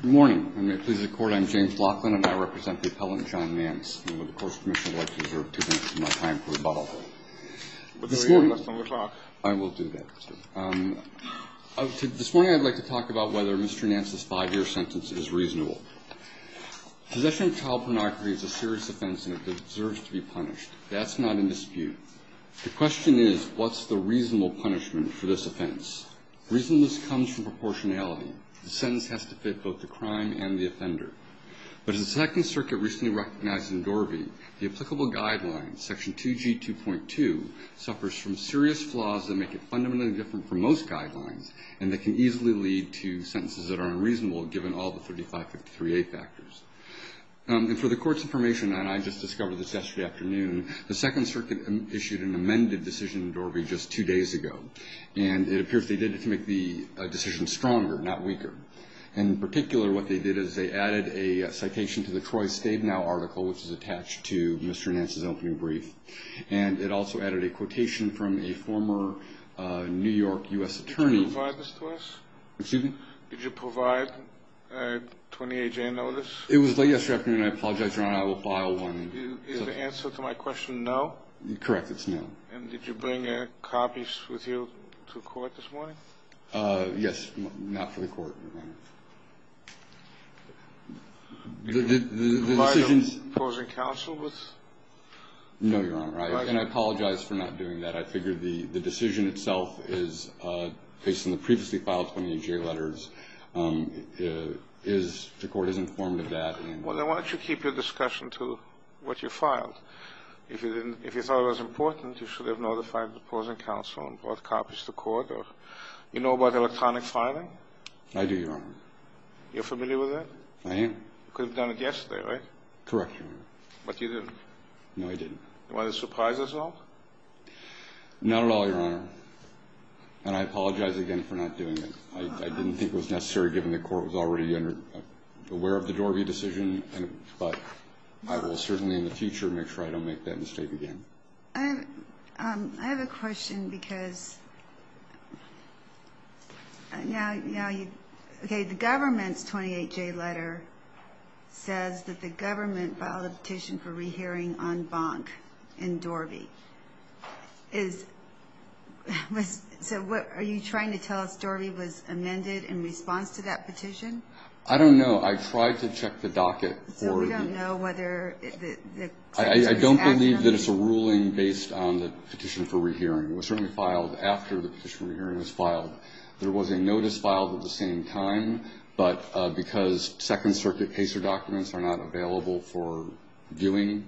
Good morning. I'm James Laughlin and I represent the appellant John Nance. I would like to reserve two minutes of my time for rebuttal. I will do that. This morning I'd like to talk about whether Mr. Nance's five-year sentence is reasonable. Possession of child pornography is a serious offense and it deserves to be punished. That's not in dispute. The question is what's the reasonable punishment for this offense. Reasonableness comes from proportionality. The sentence has to fit both the crime and the offender. But as the Second Circuit recently recognized in Dorby, the applicable guidelines, section 2G2.2, suffers from serious flaws that make it fundamentally different from most guidelines and that can easily lead to sentences that are unreasonable given all the 3553A factors. And for the Court's information, and I just discovered this yesterday afternoon, the Second Circuit issued an amended decision in Dorby just two days ago. And it appears they did it to make the decision stronger, not weaker. In particular, what they did is they added a citation to the Troy Stabenow article, which is attached to Mr. Nance's opening brief. And it also added a quotation from a former New York U.S. attorney. Did you provide this to us? Excuse me? Did you provide a 20-AJ notice? It was late yesterday afternoon. I apologize, Your Honor. I will file one. Is the answer to my question no? Correct. It's no. And did you bring copies with you to court this morning? Yes. Not for the Court, Your Honor. Did you provide a opposing counsel with? No, Your Honor. And I apologize for not doing that. I figured the decision itself is, based on the previously filed 20-AJ letters, the Court is informed of that. Well, then why don't you keep your discussion to what you filed? If you thought it was important, you should have notified the opposing counsel and brought copies to court. You know about electronic filing? I do, Your Honor. You're familiar with it? I am. You could have done it yesterday, right? Correct, Your Honor. But you didn't. No, I didn't. Was it a surprise as well? Not at all, Your Honor. And I apologize again for not doing it. I didn't think it was necessary, given the Court was already aware of the Dorby decision. But I will certainly, in the future, make sure I don't make that mistake again. I have a question because the government's 20-AJ letter says that the government filed a petition for rehearing en banc in Dorby. So are you trying to tell us Dorby was amended in response to that petition? I don't know. I tried to check the docket. So we don't know whether the second circuit is acting on it? I don't believe that it's a ruling based on the petition for rehearing. It was certainly filed after the petition for rehearing was filed. There was a notice filed at the same time, but because second circuit PACER documents are not available for viewing,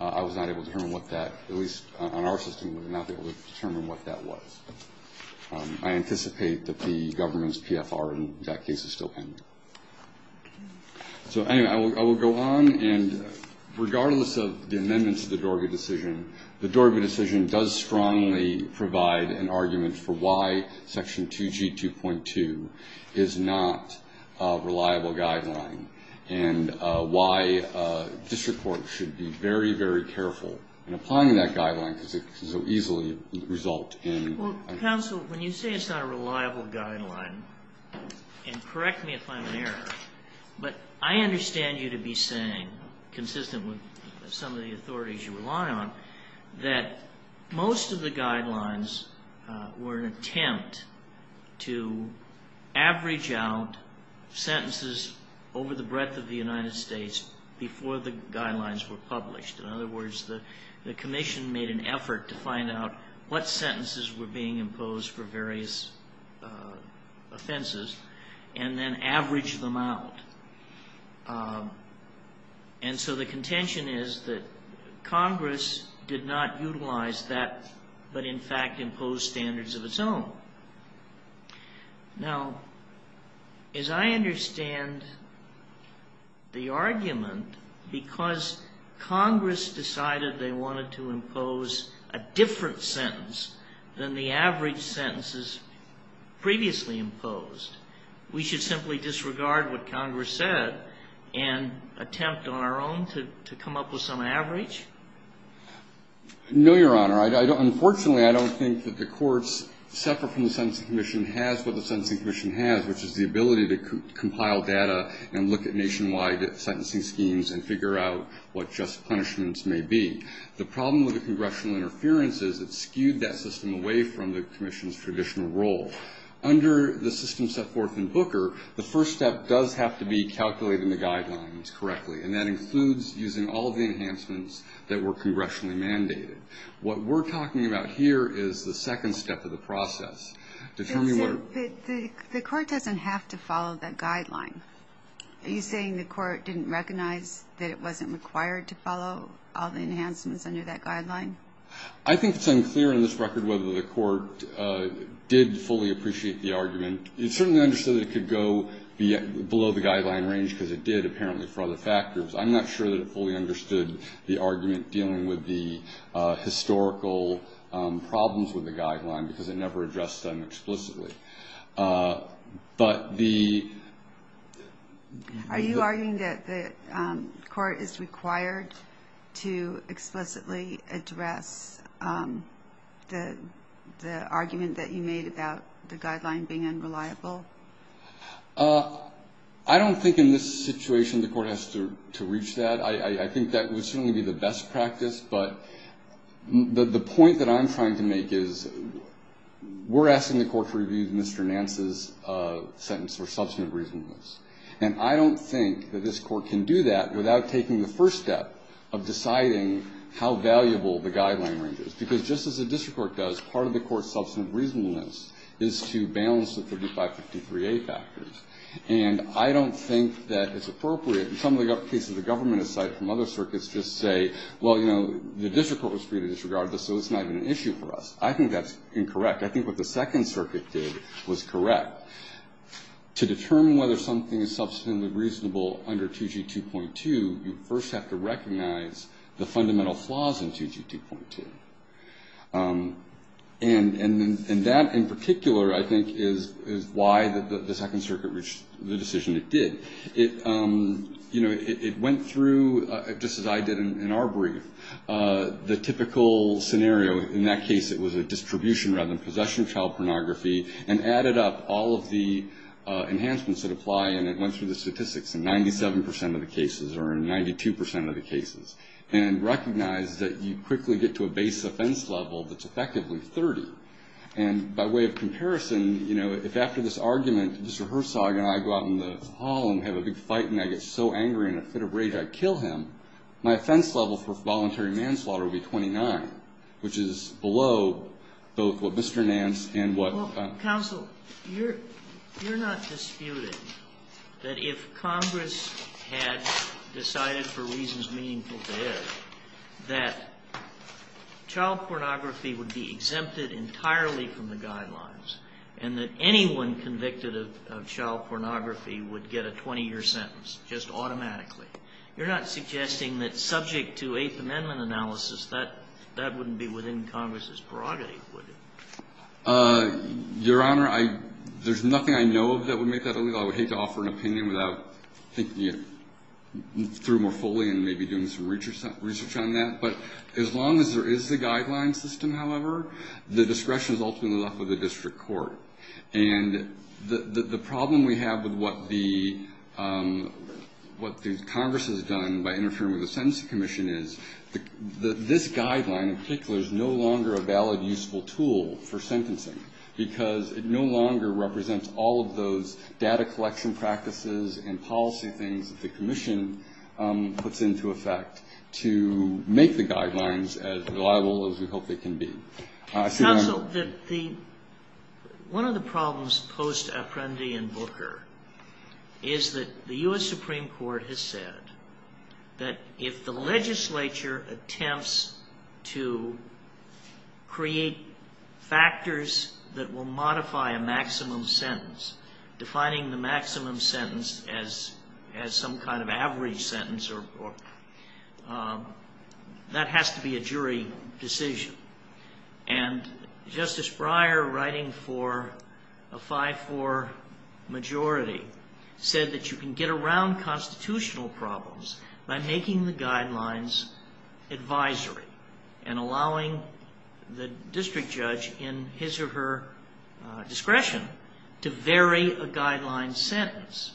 I was not able to determine what that, at least on our system, we were not able to determine what that was. I anticipate that the government's PFR in that case is still pending. So, anyway, I will go on. And regardless of the amendments to the Dorby decision, the Dorby decision does strongly provide an argument for why Section 2G2.2 is not a reliable guideline and why district courts should be very, very careful in applying that guideline because it can so easily result in an error. Well, counsel, when you say it's not a reliable guideline, and correct me if I'm in error, but I understand you to be saying, consistent with some of the authorities you rely on, that most of the guidelines were an attempt to average out sentences over the breadth of the United States before the guidelines were published. In other words, the commission made an effort to find out what sentences were being imposed for various offenses and then average them out. And so the contention is that Congress did not utilize that but, in fact, imposed standards of its own. Now, as I understand the argument, because Congress decided they wanted to impose a different sentence than the average sentences previously imposed, we should simply disregard what Congress said and attempt on our own to come up with some average? No, Your Honor. Unfortunately, I don't think that the courts, separate from the Sentencing Commission, has what the Sentencing Commission has, which is the ability to compile data and look at nationwide sentencing schemes and figure out what just punishments may be. The problem with the congressional interference is it skewed that system away from the commission's traditional role. Under the system set forth in Booker, the first step does have to be calculating the guidelines correctly, and that includes using all the enhancements that were congressionally mandated. What we're talking about here is the second step of the process. The court doesn't have to follow that guideline. Are you saying the court didn't recognize that it wasn't required to follow all the enhancements under that guideline? I think it's unclear on this record whether the court did fully appreciate the argument. It certainly understood that it could go below the guideline range because it did, apparently, for other factors. I'm not sure that it fully understood the argument dealing with the historical problems with the guideline because it never addressed them explicitly. Are you arguing that the court is required to explicitly address the argument that you made about the guideline being unreliable? I don't think in this situation the court has to reach that. I think that would certainly be the best practice, but the point that I'm trying to make is we're asking the court to review Mr. Nance's sentence for substantive reasonableness. And I don't think that this court can do that without taking the first step of deciding how valuable the guideline range is, because just as a district court does, part of the And I don't think that it's appropriate. In some of the cases, the government, aside from other circuits, just say, well, you know, the district court was free to disregard this, so it's not even an issue for us. I think that's incorrect. I think what the Second Circuit did was correct. To determine whether something is substantively reasonable under 2G2.2, you first have to recognize the fundamental flaws in 2G2.2. And that in particular, I think, is why the Second Circuit reached the decision it did. You know, it went through, just as I did in our brief, the typical scenario. In that case, it was a distribution rather than possession of child pornography, and added up all of the enhancements that apply, and it went through the statistics in 97 percent of the cases, or in 92 percent of the cases. And recognize that you quickly get to a base offense level that's effectively 30. And by way of comparison, you know, if after this argument, Mr. Herzog and I go out in the hall and have a big fight, and I get so angry, and at a fit of rage, I kill him, my offense level for voluntary manslaughter would be 29, which is below both what Mr. Nance and what... Well, counsel, you're not disputing that if Congress had decided for reasons meaningful to you, that child pornography would be exempted entirely from the guidelines, and that anyone convicted of child pornography would get a 20-year sentence just automatically. You're not suggesting that subject to Eighth Amendment analysis, that that wouldn't be within Congress's prerogative, would it? Your Honor, there's nothing I know of that would make that illegal. I would hate to offer an opinion without thinking it through more fully and maybe doing some research on that. But as long as there is the guideline system, however, the discretion is ultimately left with the district court. And the problem we have with what the Congress has done by interfering with the Sentencing Commission is that this guideline in particular is no longer a valid, useful tool for sentencing, because it no longer represents all of those data collection practices and policy things that the commission puts into effect to make the guidelines as reliable as we hope they can be. Counsel, one of the problems posed to Apprendi and Booker is that the U.S. Supreme Court has said that if the legislature attempts to create factors that will modify a maximum sentence, defining the maximum sentence as some kind of average sentence, that has to be a jury decision. And Justice Breyer, writing for a 5-4 majority, said that you can get around constitutional problems by making the guidelines advisory and allowing the district judge in his or her discretion to vary a guideline sentence.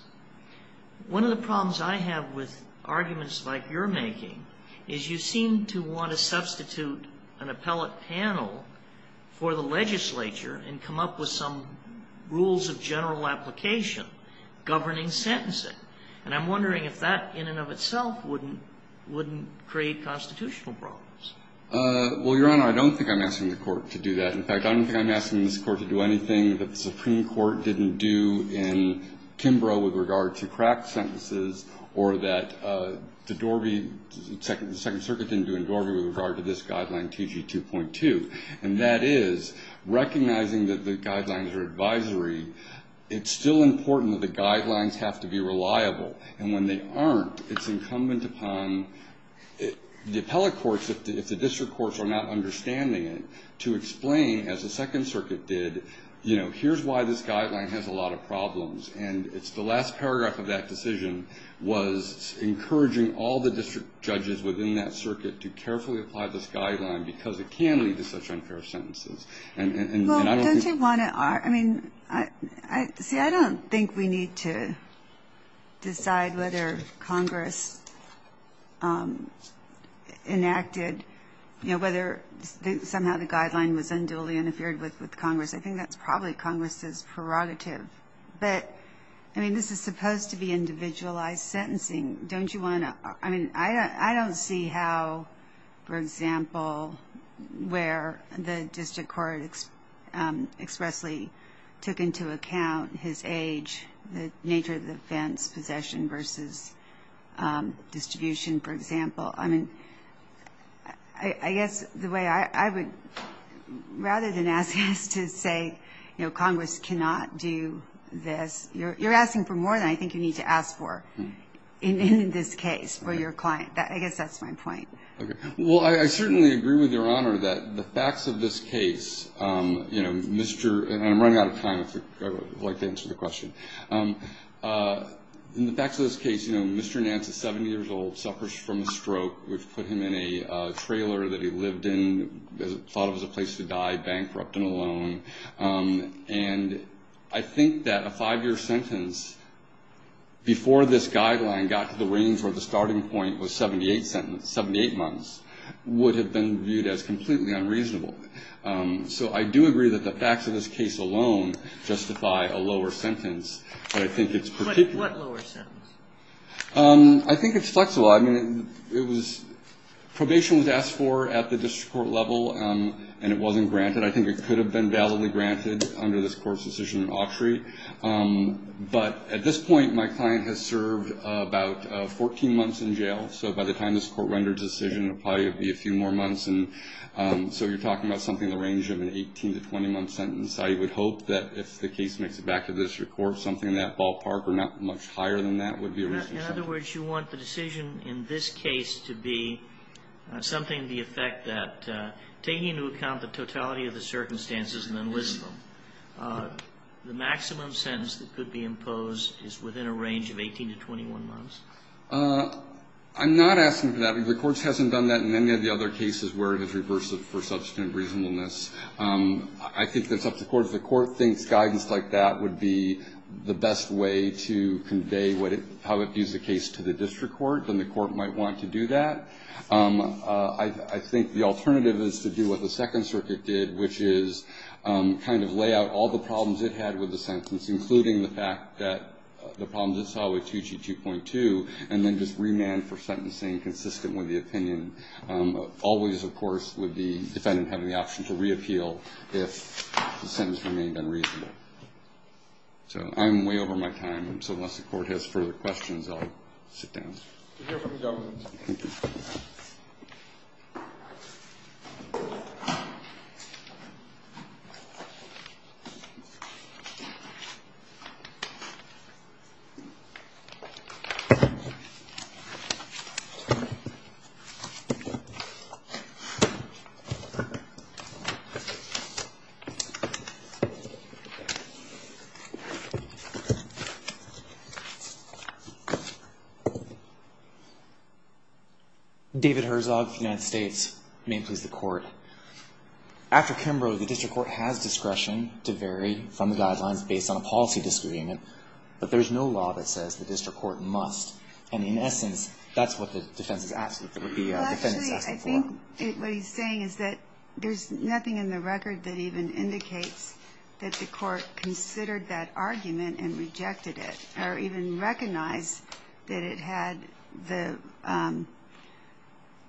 One of the problems I have with arguments like you're making is you seem to want to substitute an appellate panel for the legislature and come up with some rules of general application governing sentencing. And I'm wondering if that in and of itself wouldn't create constitutional problems. Well, Your Honor, I don't think I'm asking the Court to do that. In fact, I don't think I'm asking this Court to do anything that the Supreme Court didn't do in Kimbrough with regard to cracked sentences or that the Dorby, the Second Circuit didn't do in Dorby with regard to this guideline, TG 2.2. And that is, recognizing that the guidelines are advisory, it's still important that the guidelines have to be reliable. And when they aren't, it's incumbent upon the appellate courts, if the district courts are not understanding it, to explain, as the Second Circuit did, you know, here's why this guideline has a lot of problems. And it's the last paragraph of that decision was encouraging all the district judges within that circuit to carefully apply this guideline because it can lead to such unfair sentences. Well, don't you want to argue, I mean, see, I don't think we need to decide whether Congress enacted, you know, whether somehow the guideline was unduly interfered with with Congress. I think that's probably Congress's prerogative. But, I mean, this is supposed to be individualized sentencing. Don't you want to, I mean, I don't see how, for example, where the district courts, expressly took into account his age, the nature of the offense, possession versus distribution, for example. I mean, I guess the way I would, rather than ask us to say, you know, Congress cannot do this, you're asking for more than I think you need to ask for in this case for your client. I guess that's my point. Well, I certainly agree with Your Honor that the facts of this case, you know, Mr., and I'm running out of time if you'd like to answer the question. In the facts of this case, you know, Mr. Nance is 70 years old, suffers from a stroke. We've put him in a trailer that he lived in, thought it was a place to die, bankrupt and alone. And I think that a five-year sentence before this guideline got to the range where the starting point was 78 sentences, 78 months, would have been viewed as completely unreasonable. So I do agree that the facts of this case alone justify a lower sentence, but I think it's particular. What lower sentence? I think it's flexible. I mean, it was, probation was asked for at the district court level, and it wasn't granted. I think it could have been validly granted under this court's decision in auctiory. But at this point, my client has served about 14 months in jail. So by the time this court renders a decision, it'll probably be a few more months. And so you're talking about something in the range of an 18- to 20-month sentence. I would hope that if the case makes it back to the district court, something in that ballpark or not much higher than that would be a reasonable sentence. In other words, you want the decision in this case to be something to the effect that, taking into account the totality of the circumstances and the list of them, the maximum sentence that could be imposed is within a range of 18 to 21 months? I'm not asking for that. The Court hasn't done that in any of the other cases where it has reversed it for substantive reasonableness. I think that's up to the Court. If the Court thinks guidance like that would be the best way to convey how it views the case to the district court, then the Court might want to do that. I think the alternative is to do what the Second Circuit did, which is kind of lay out all the problems it had with the sentence, including the fact that the problems it saw with 2G2.2, and then just remand for sentencing consistent with the opinion. Always, of course, would the defendant have the option to reappeal if the sentence remained unreasonable. I'm way over my time, so unless the Court has further questions, I'll sit down. We'll hear from the government. David Herzog, United States, Maine Pleas the Court. After Kimbrough, the district court has discretion to vary from the guidelines based on a policy disagreement, but there's no law that says the district court must. And in essence, that's what the defense is asking for. Actually, I think what he's saying is that there's nothing in the record that even indicates that the Court considered that argument and rejected it, or even recognized that it had the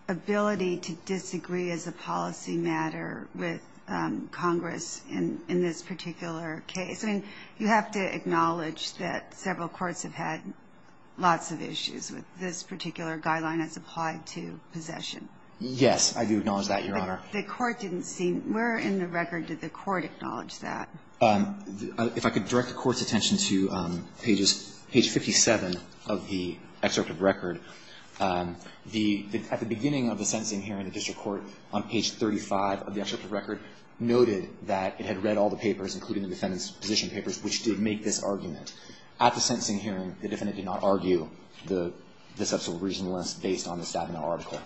ability to disagree as a policy matter with Congress in this particular case. I mean, you have to acknowledge that several courts have had lots of issues with this particular guideline as applied to possession. Yes, I do acknowledge that, Your Honor. But the court didn't seem to be in the record that the court acknowledged that. If I could direct the Court's attention to pages 57 of the excerpt of record. At the beginning of the sentencing hearing, the district court, on page 35 of the excerpt of record, noted that it had read all the papers, including the defendant's position papers, which did make this argument. At the sentencing hearing, the defendant did not argue the substantial reasonableness based on the staff in the article.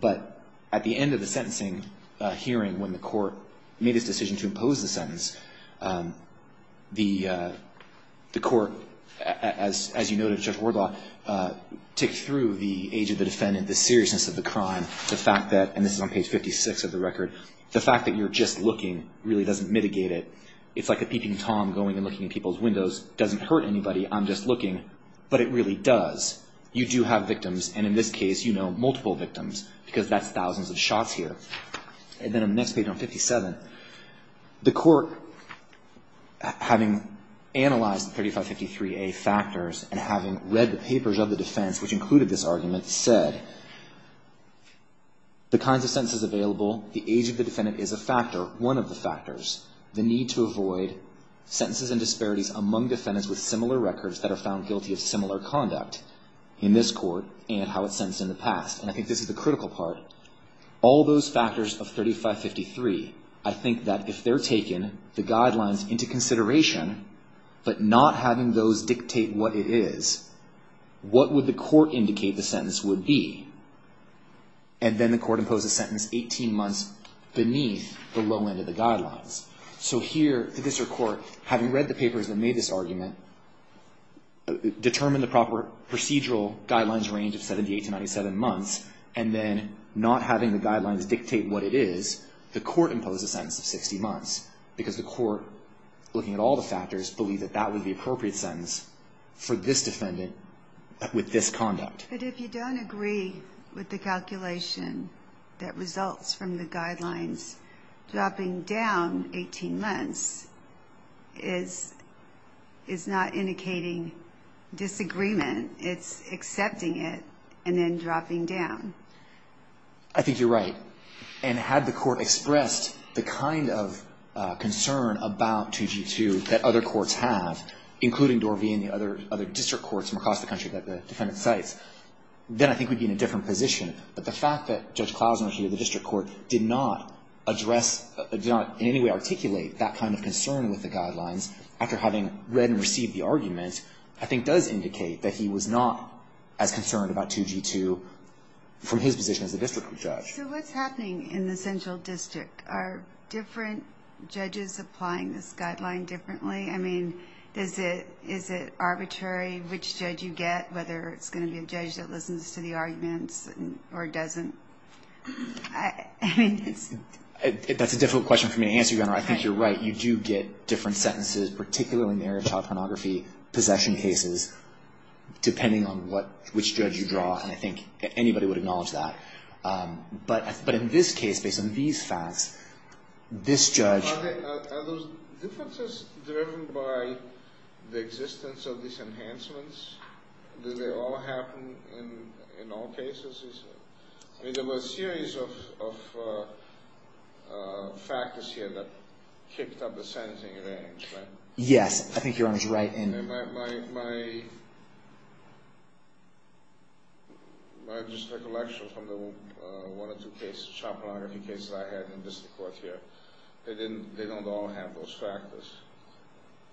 But at the end of the sentencing hearing, when the court made its decision to impose the sentence, the court, as you noted, Judge Wardlaw, ticked through the age of the defendant, the seriousness of the crime, the fact that, and this is on page 56 of the record, the fact that you're just looking really doesn't mitigate it. It's like a peeping Tom going and looking in people's windows. It doesn't hurt anybody. I'm just looking. But it really does. You do have victims, and in this case you know multiple victims, because that's thousands of shots here. And then on the next page, on 57, the court, having analyzed the 3553A factors and having read the papers of the defense, which included this argument, said, the kinds of sentences available, the age of the defendant is a factor, one of the factors, the need to avoid sentences and disparities among defendants with similar records that are found guilty of similar conduct in this court and how it's sentenced in the past. And I think this is the critical part. All those factors of 3553, I think that if they're taking the guidelines into consideration, but not having those dictate what it is, what would the court indicate the sentence would be? And then the court imposed a sentence 18 months beneath the low end of the guidelines. So here, the district court, having read the papers that made this argument, determined the proper procedural guidelines range of 78 to 97 months, and then not having the guidelines dictate what it is, the court imposed a sentence of 60 months, because the court, looking at all the factors, believed that that was the appropriate sentence for this defendant with this conduct. But if you don't agree with the calculation that results from the guidelines, dropping down 18 months is not indicating disagreement. It's accepting it and then dropping down. I think you're right. And had the court expressed the kind of concern about 2G2 that other courts have, including Dorvey and the other district courts from across the country that the defendant cites, then I think we'd be in a different position. But the fact that Judge Klausner here, the district court, did not address, did not in any way articulate that kind of concern with the guidelines after having read and received the argument, I think does indicate that he was not as concerned about 2G2 from his position as a district judge. So what's happening in the central district? Are different judges applying this guideline differently? I mean, is it arbitrary which judge you get, whether it's going to be a judge that listens to the arguments or doesn't? That's a difficult question for me to answer, Your Honor. I think you're right. You do get different sentences, particularly marriage, child pornography, possession cases, depending on which judge you draw, and I think anybody would acknowledge that. But in this case, based on these facts, this judge... Are those differences driven by the existence of these enhancements? Do they all happen in all cases? I mean, there were a series of factors here that kicked up the sentencing range, right? Yes, I think Your Honor's right. My district election from the one or two cases, child pornography cases I had in district court here, they don't all have those factors.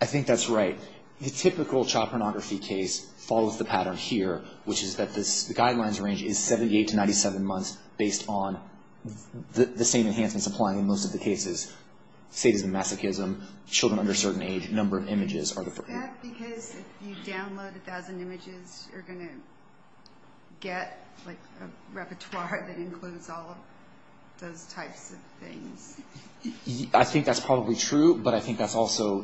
I think that's right. The typical child pornography case follows the pattern here, which is that the guidelines range is 78 to 97 months based on the same enhancements applying in most of the cases, sadism, masochism, children under a certain age, number of images. Is that because if you download a thousand images, you're going to get a repertoire that includes all of those types of things? I think that's probably true, but I think that's also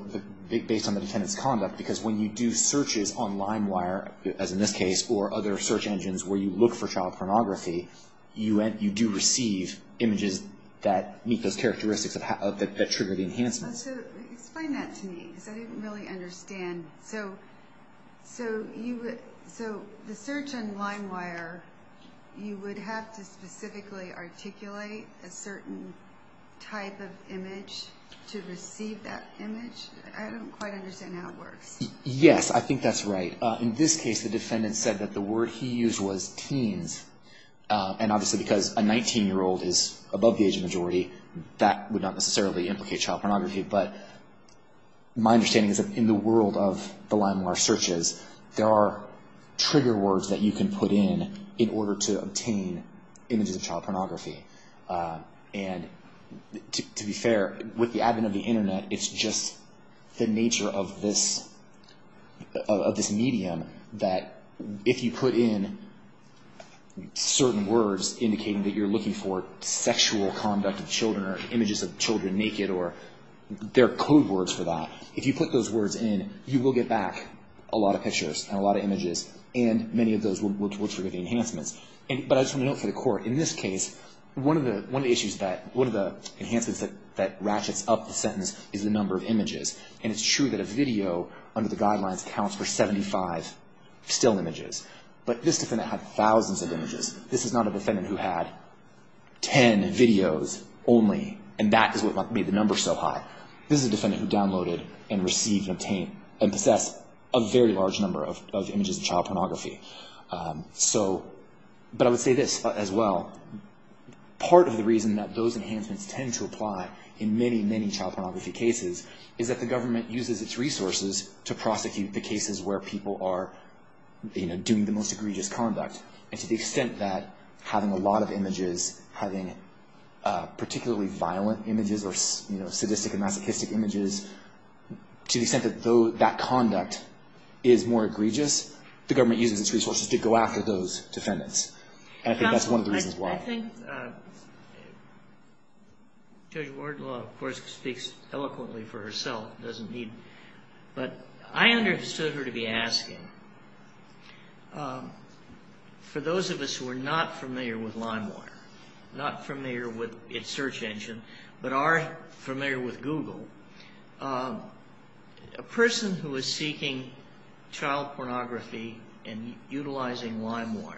based on the defendant's conduct, because when you do searches on LimeWire, as in this case, or other search engines where you look for child pornography, you do receive images that meet those characteristics that trigger the enhancements. Explain that to me, because I didn't really understand. So the search on LimeWire, you would have to specifically articulate a certain type of image to receive that image? I don't quite understand how it works. Yes, I think that's right. In this case, the defendant said that the word he used was teens, and obviously because a 19-year-old is above the age of majority, that would not necessarily implicate child pornography. But my understanding is that in the world of the LimeWire searches, there are trigger words that you can put in in order to obtain images of child pornography. And to be fair, with the advent of the Internet, it's just the nature of this medium that if you put in certain words indicating that you're looking for sexual conduct of children, or images of children naked, or there are code words for that, if you put those words in, you will get back a lot of pictures and a lot of images, and many of those will trigger the enhancements. But I just want to note for the Court, in this case, one of the enhancements that ratchets up the sentence is the number of images. And it's true that a video under the guidelines counts for 75 still images. But this defendant had thousands of images. This is not a defendant who had 10 videos only, and that is what made the number so high. This is a defendant who downloaded and received and possessed a very large number of images of child pornography. But I would say this as well. Part of the reason that those enhancements tend to apply in many, many child pornography cases is that the government uses its resources to prosecute the cases where people are doing the most egregious conduct. And to the extent that having a lot of images, having particularly violent images or sadistic and masochistic images, to the extent that that conduct is more egregious, the government uses its resources to go after those defendants. And I think that's one of the reasons why. I think Judge Wardlaw, of course, speaks eloquently for herself. But I understood her to be asking, for those of us who are not familiar with LimeWire, not familiar with its search engine, but are familiar with Google, a person who is seeking child pornography and utilizing LimeWire,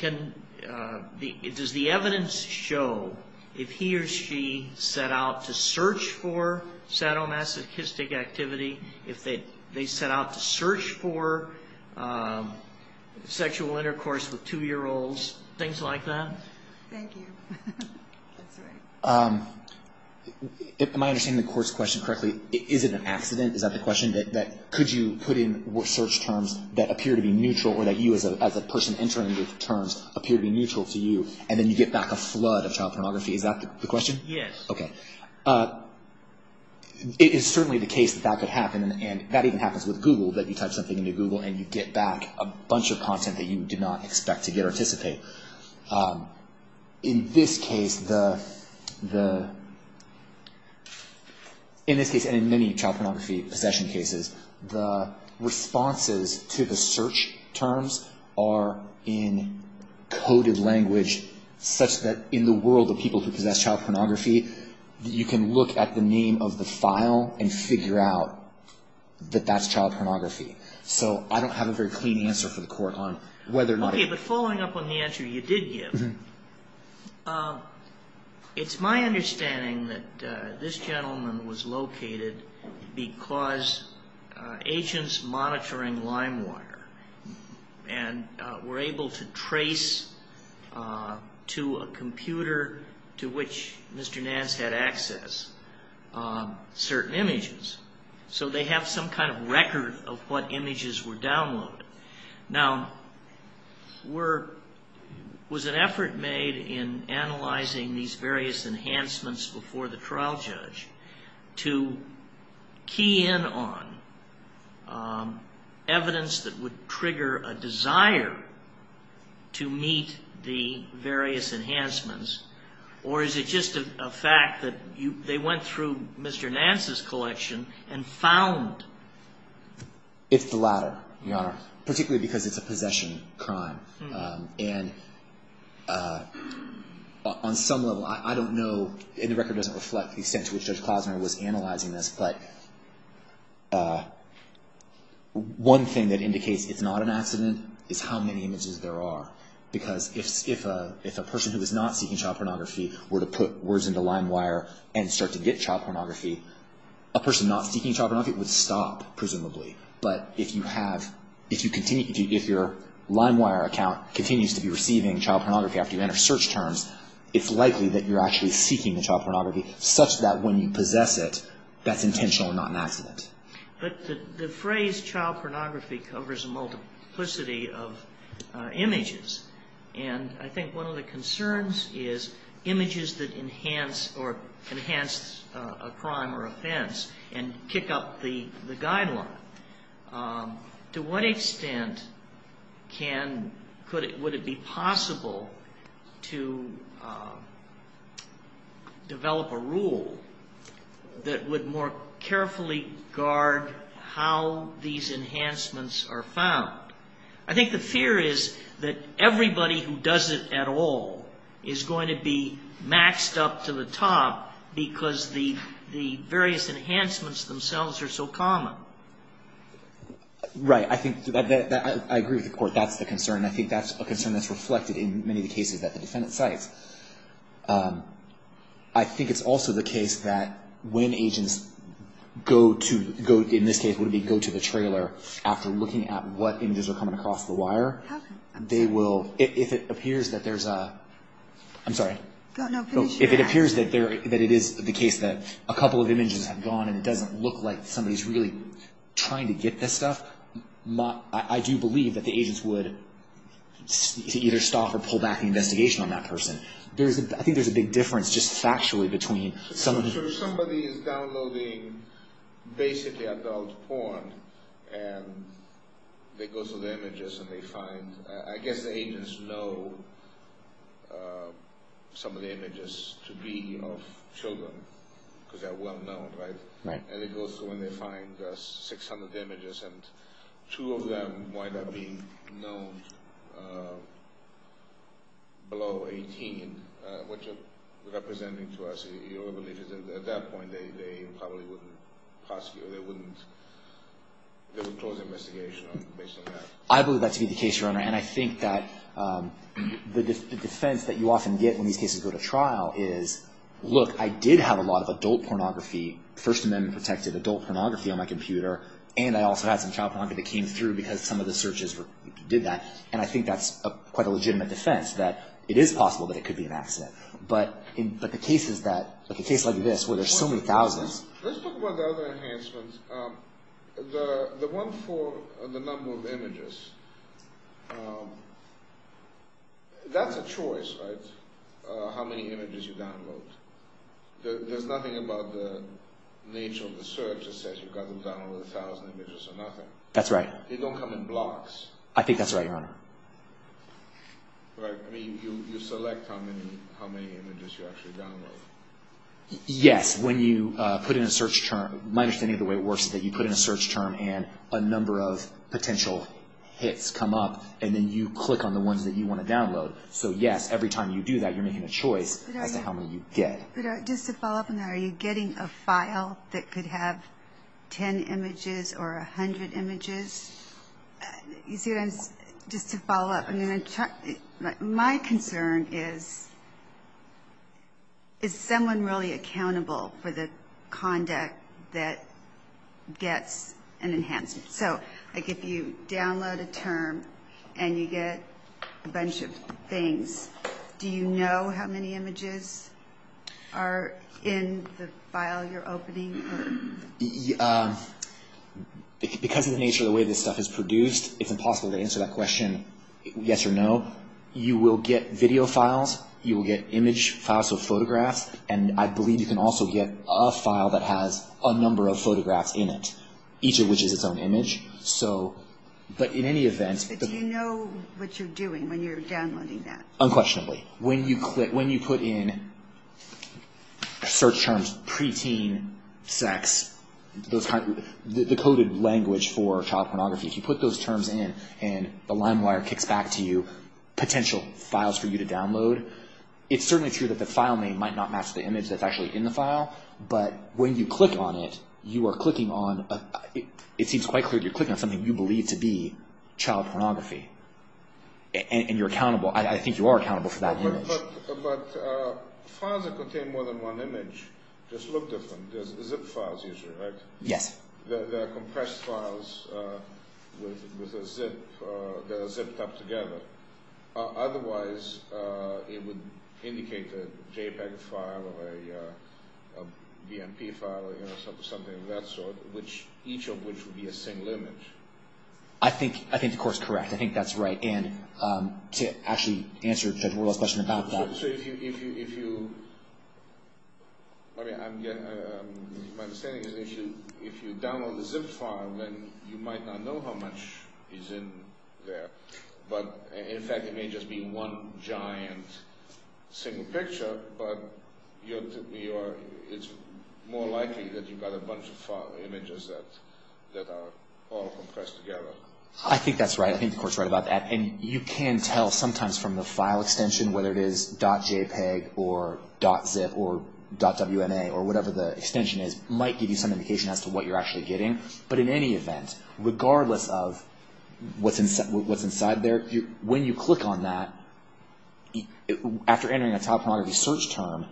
does the evidence show if he or she set out to search for sadomasochistic activity, if they set out to search for sexual intercourse with two-year-olds, things like that? Thank you. Am I understanding the court's question correctly? Is it an accident? Is that the question, that could you put in search terms that appear to be neutral or that you as a person entering the terms appear to be neutral to you and then you get back a flood of child pornography? Is that the question? Yes. Okay. It is certainly the case that that could happen, and that even happens with Google, that you type something into Google and you get back a bunch of content that you did not expect to get or anticipate. In this case, and in many child pornography possession cases, the responses to the search terms are in coded language, such that in the world of people who possess child pornography, you can look at the name of the file and figure out that that's child pornography. So I don't have a very clean answer for the court on whether or not... Okay. But following up on the answer you did give, it's my understanding that this gentleman was located because agents monitoring LimeWire and were able to trace to a computer to which Mr. Neal was able to access certain images. So they have some kind of record of what images were downloaded. Now, was an effort made in analyzing these various enhancements before the trial judge to key in on evidence that would trigger a desire to meet the various enhancements? Or is it just a fact that they went through Mr. Nance's collection and found... It's the latter, Your Honor, particularly because it's a possession crime. And on some level, I don't know, and the record doesn't reflect the extent to which Judge Klosner was analyzing this, but one thing that indicates it's not an accident is how many images there are. Because if a person who is not seeking child pornography were to put words into LimeWire and start to get child pornography, a person not seeking child pornography would stop, presumably. But if your LimeWire account continues to be receiving child pornography after you enter search terms, it's likely that you're actually seeking the child pornography such that when you possess it, that's intentional and not an accident. But the phrase child pornography covers a multiplicity of images. And I think one of the concerns is images that enhance or enhance a crime or offense and kick up the guideline. To what extent can, would it be possible to develop a guideline or a rule that would more carefully guard how these enhancements are found? I think the fear is that everybody who does it at all is going to be maxed up to the top because the various enhancements themselves are so common. Right. I think I agree with the Court. That's the concern. I think that's a concern that's reflected in many of the cases that the defendant cites. I think it's also the case that when agents go to, in this case, would it be go to the trailer after looking at what images are coming across the wire, they will, if it appears that there's a, I'm sorry. If it appears that it is the case that a couple of images have gone and it doesn't look like somebody's really trying to get this stuff, I do believe that the agents would either stop or pull back the investigation on that person. I think there's a big difference just factually between someone who... So if somebody is downloading basically adult porn and they go through the images and they find, I guess the agents know some of the images to be of children because they're well-known, right? Right. And they go through and they find 600 images and two of them wind up being known below 18, which are representing to us, you know, at that point they probably wouldn't prosecute, they wouldn't, they would close the investigation based on that. I believe that to be the case, Your Honor. And I think that the defense that you often get when these cases go to trial is, look, I did have a lot of adult pornography, First Amendment-protected adult pornography on my computer, and I also had some child pornography that came through because some of the searches did that. And I think that's quite a legitimate defense that it is possible that it could be an accident. But in cases like this where there's so many thousands... Let's talk about the other enhancements. The one for the number of images, that's a choice, right? How many images you download. There's nothing about the nature of the search that says you've got to download a thousand images or nothing. That's right. They don't come in blocks. I think that's right, Your Honor. Right. I mean, you select how many images you actually download. Yes. When you put in a search term, my understanding of the way it works is that you put in a search term and a number of potential hits come up, and then you click on the ones that you want to download. So yes, every time you do that, you're making a choice as to how many you get. But just to follow up on that, are you getting a file that could have ten images or a hundred images? Just to follow up, my concern is, is someone really accountable for the conduct that gets an enhancement? So if you download a term and you get a bunch of things, do you know how many images are in the file you're opening? Because of the nature of the way this stuff is produced, it's impossible to answer that question yes or no. You will get video files. You will get image files, so photographs. And I believe you can also get a file that has a number of photographs in it, each of which is its own image. But do you know what you're doing when you're downloading that? Unquestionably. When you put in search terms, preteen, sex, the coded language for child pornography, if you put those terms in and the LimeWire kicks back to you, potential files for you to download, it's certainly true that the file name might not match the image that's actually in the file, but when you click on it, you are clicking on, it seems quite clear that you're clicking on something you believe to be child pornography. And you're accountable, I think you are accountable for that image. But files that contain more than one image just look different. There's zip files usually, right? Yes. There are compressed files that are zipped up together. Otherwise, it would indicate a JPEG file or a BMP file or something of that sort, each of which would be a single image. I think the court's correct. I think that's right. My understanding is if you download the zip file, then you might not know how much is in there. In fact, it may just be one giant single picture, but it's more likely that you've got a bunch of images that are all compressed together. I think that's right. I think the court's right about that. And you can tell sometimes from the file extension, whether it is .jpeg or .zip or .wma or whatever the extension is, it might give you some indication as to what you're actually getting. But in any event, regardless of what's inside there, when you click on that, after entering a child pornography search term,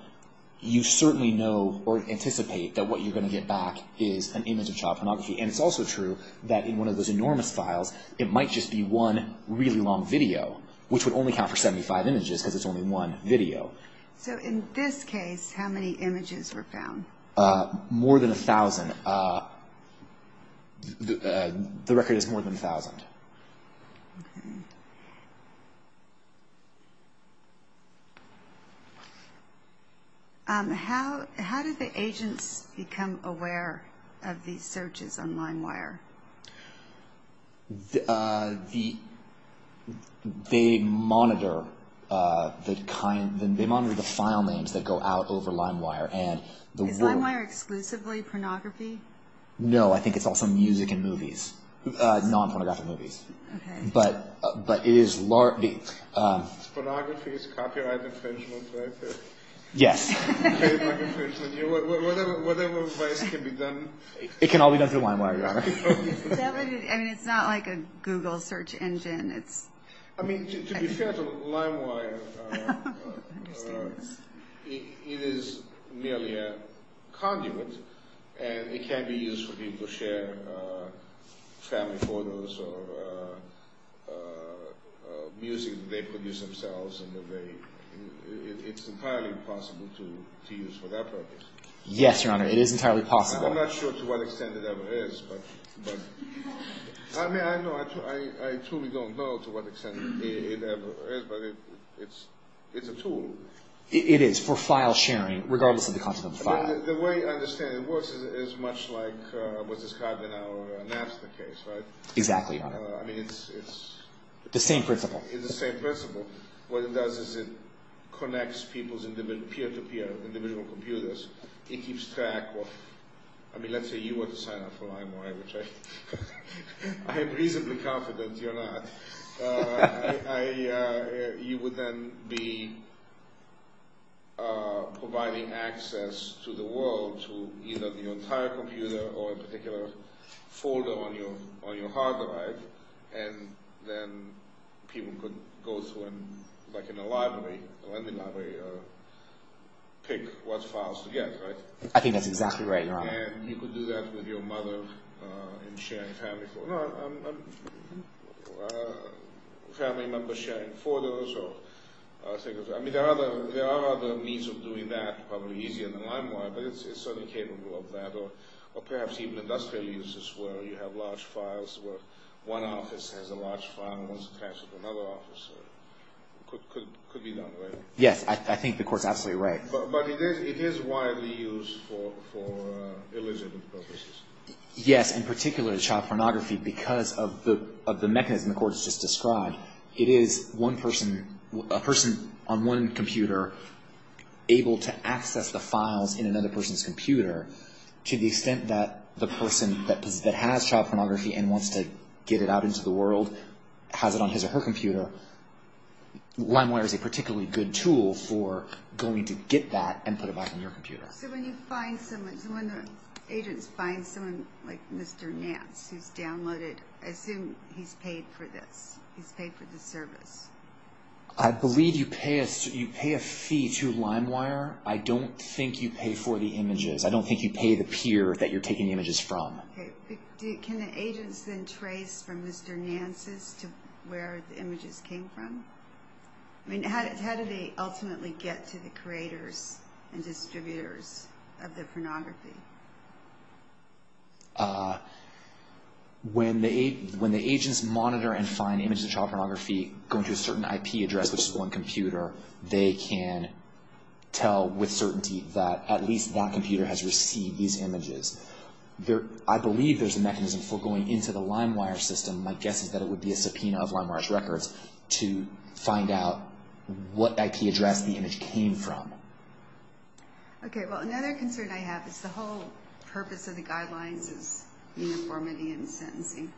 you certainly know or anticipate that what you're going to get back is an image of child pornography. And it's also true that in one of those enormous files, it might just be one really long video, which would only count for 75 images because it's only one video. So in this case, how many images were found? More than 1,000. The record is more than 1,000. How do the agents become aware of these searches on LimeWire? They monitor the file names that go out over LimeWire. Is LimeWire exclusively pornography? No, I think it's also music and movies, non-pornographic movies. Pornography is copyright infringement, right? Yes. It can all be done through LimeWire, Your Honor. It's not like a Google search engine. To be fair to LimeWire, it is merely a conduit, and it can be used for people to share family photos or music that they produce themselves. It's entirely possible to use for that purpose. Yes, Your Honor, it is entirely possible. I'm not sure to what extent it ever is, but I truly don't know to what extent it ever is, but it's a tool. It is for file sharing, regardless of the content of the file. The way I understand it works is much like what's described in our NAFTA case, right? Exactly, Your Honor. It's the same principle. What it does is it connects people's peer-to-peer individual computers. It keeps track of... I mean, let's say you were to sign up for LimeWire, which I am reasonably confident you're not. You would then be providing access to the world to either the entire computer or a particular folder on your hard drive, and then people could go through and, like in a library, pick what files to get, right? I think that's exactly right, Your Honor. And you could do that with your mother in sharing family photos. I mean, there are other means of doing that, probably easier than LimeWire, but it's certainly capable of that. Or perhaps even industrial uses where you have large files where one office has a large file and one's attached to another office. It could be done, right? Yes, I think the Court's absolutely right. But it is widely used for illegitimate purposes. Yes, in particular child pornography, because of the mechanism the Court has just described. It is a person on one computer able to access the files in another person's computer to the extent that the person that has child pornography and wants to get it out into the world has it on his or her computer, LimeWire is a particularly good tool for going to get that and put it back on your computer. So when the agents find someone like Mr. Nance who's downloaded, I assume he's paid for this. He's paid for the service. I believe you pay a fee to LimeWire. I don't think you pay for the images. I don't think you pay the peer that you're taking images from. Can the agents then trace from Mr. Nance's to where the images came from? How do they ultimately get to the creators and distributors of the pornography? When the agents monitor and find images of child pornography going to a certain IP address, which is one computer, they can tell with certainty that at least that computer has received these images. I believe there's a mechanism for going into the LimeWire system, my guess is that it would be a subpoena of LimeWire's records, to find out what IP address the image came from. Another concern I have is the whole purpose of the guidelines is uniformity and sentencing.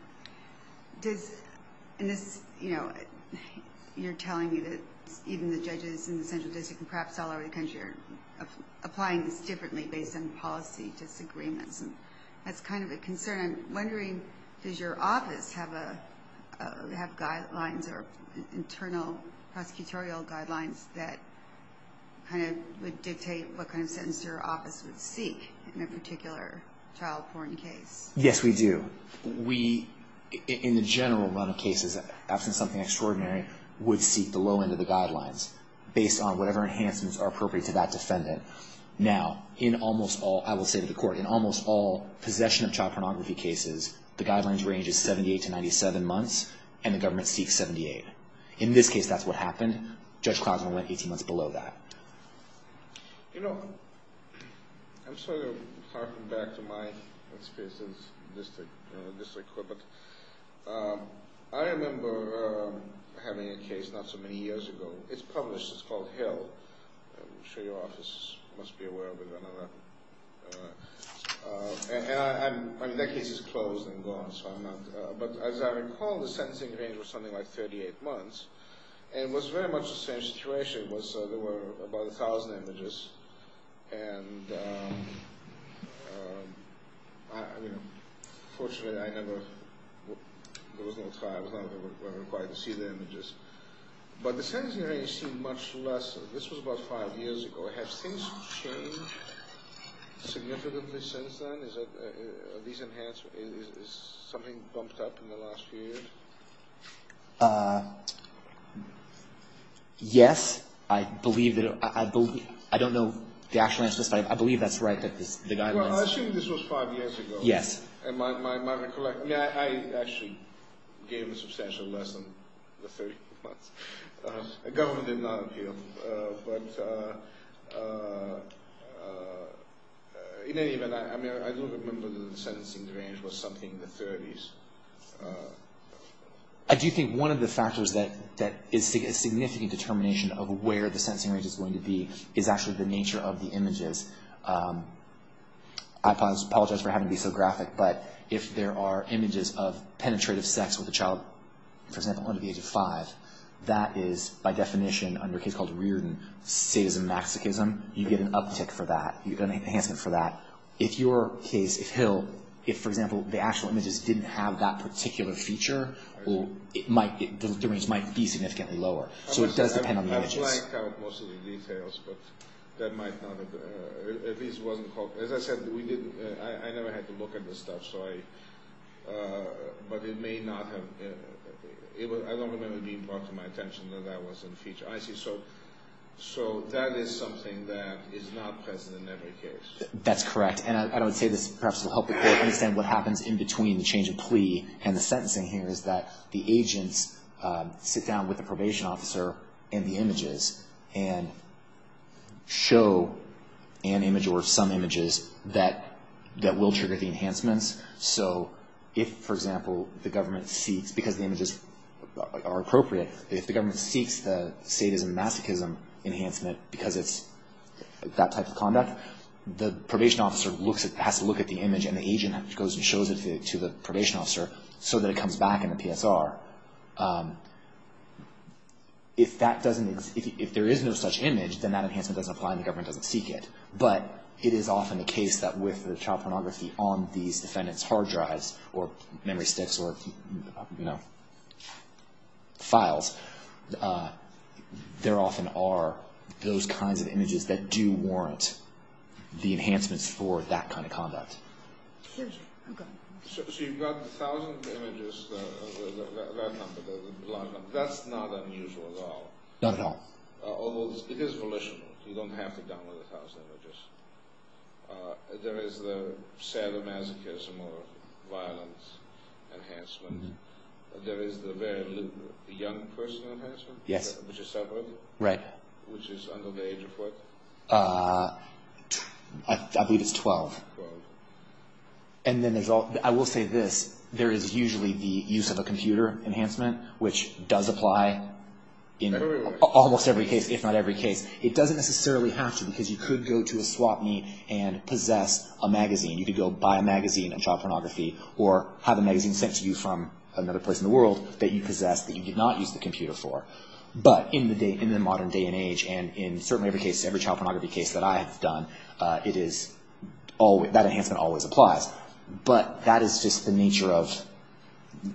You're telling me that even the judges in the Central District and perhaps all over the country are applying this differently based on policy disagreements. That's kind of a concern. I'm wondering, does your office have guidelines or internal prosecutorial guidelines that would dictate what kind of sentence your office would seek in a particular child porn case? Yes, we do. In the general run of cases, absent something extraordinary, we would seek the low end of the guidelines, based on whatever enhancements are appropriate to that defendant. Now, in almost all possession of child pornography cases, the guidelines range is 78 to 97 months, and the government seeks 78. In this case, that's what happened. Judge Klausman went 18 months below that. You know, I'm sort of harking back to my experience in the District Court, but I remember having a case not so many years ago. It's published, it's called Hill. I'm sure your office must be aware of it. And that case is closed and gone, so I'm not... But as I recall, the sentencing range was something like 38 months, and it was very much the same situation. There were about a thousand images, and fortunately, I never... There was no trial. I was not required to see the images. But the sentencing range seemed much lesser. This was about five years ago. Have things changed significantly since then? Are these enhancements... Is something bumped up in the last few years? Yes. I believe that... I don't know the actual answer to this, but I believe that's right, that the guidelines... Well, I assume this was five years ago. Yes. I do think one of the factors that is a significant determination of where the sentencing range is going to be is actually the nature of the images. I apologize for having to be so graphic, but if there are images of penetrative sex with a child, for example, under the age of five, that is, by definition, under a case called Reardon, sadism, masochism, you get an uptick for that. You get an enhancement for that. If your case, if Hill... If, for example, the actual images didn't have that particular feature, the range might be significantly lower. So it does depend on the images. I've blacked out most of the details, but that might not have... As I said, I never had to look at this stuff, so I... But it may not have... I don't remember it being brought to my attention that that wasn't a feature. I see. So that is something that is not present in every case. That's correct. And I would say this perhaps will help people understand what happens in between the change of plea and the sentencing here is that the agents sit down with the probation officer and the images and show an image or some images that will trigger the enhancements. So if, for example, the government seeks, because the images are appropriate, if the government seeks the sadism, masochism enhancement because it's that type of conduct, the probation officer has to look at the image and the agent goes and shows it to the probation officer so that it comes back in the PSR. If that doesn't... If there is no such image, then that enhancement doesn't apply and the government doesn't seek it. But it is often the case that with the child pornography on these defendants' hard drives there often are those kinds of images that do warrant the enhancements for that kind of conduct. So you've got a thousand images, that number, that's not unusual at all. Not at all. Although it is volitional. You don't have to download a thousand images. There is the sadomasochism or violence enhancement. There is the very young person enhancement, which is separate. Which is under the age of what? I believe it's 12. I will say this, there is usually the use of a computer enhancement, which does apply in almost every case, if not every case. It doesn't necessarily have to because you could go to a swap meet and possess a magazine. You could go buy a magazine on child pornography or have a magazine sent to you from another place in the world that you possess that you did not use the computer for. But in the modern day and age, and in certainly every case, every child pornography case that I have done, that enhancement always applies. But that is just the nature of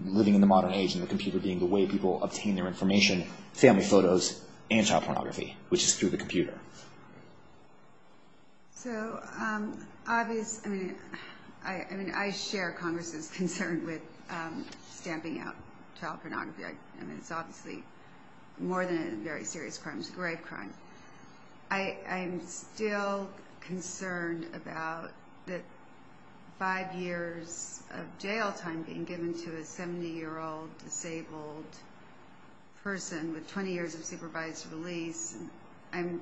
living in the modern age and the computer being the way people obtain their information, family photos and child pornography, which is through the computer. So I mean, I share Congress's concern with stamping out child pornography. I mean, it's obviously more than a very serious crime. It's a grave crime. I'm still concerned about the five years of jail time being given to a 70-year-old disabled person with 20 years of supervised release. I mean,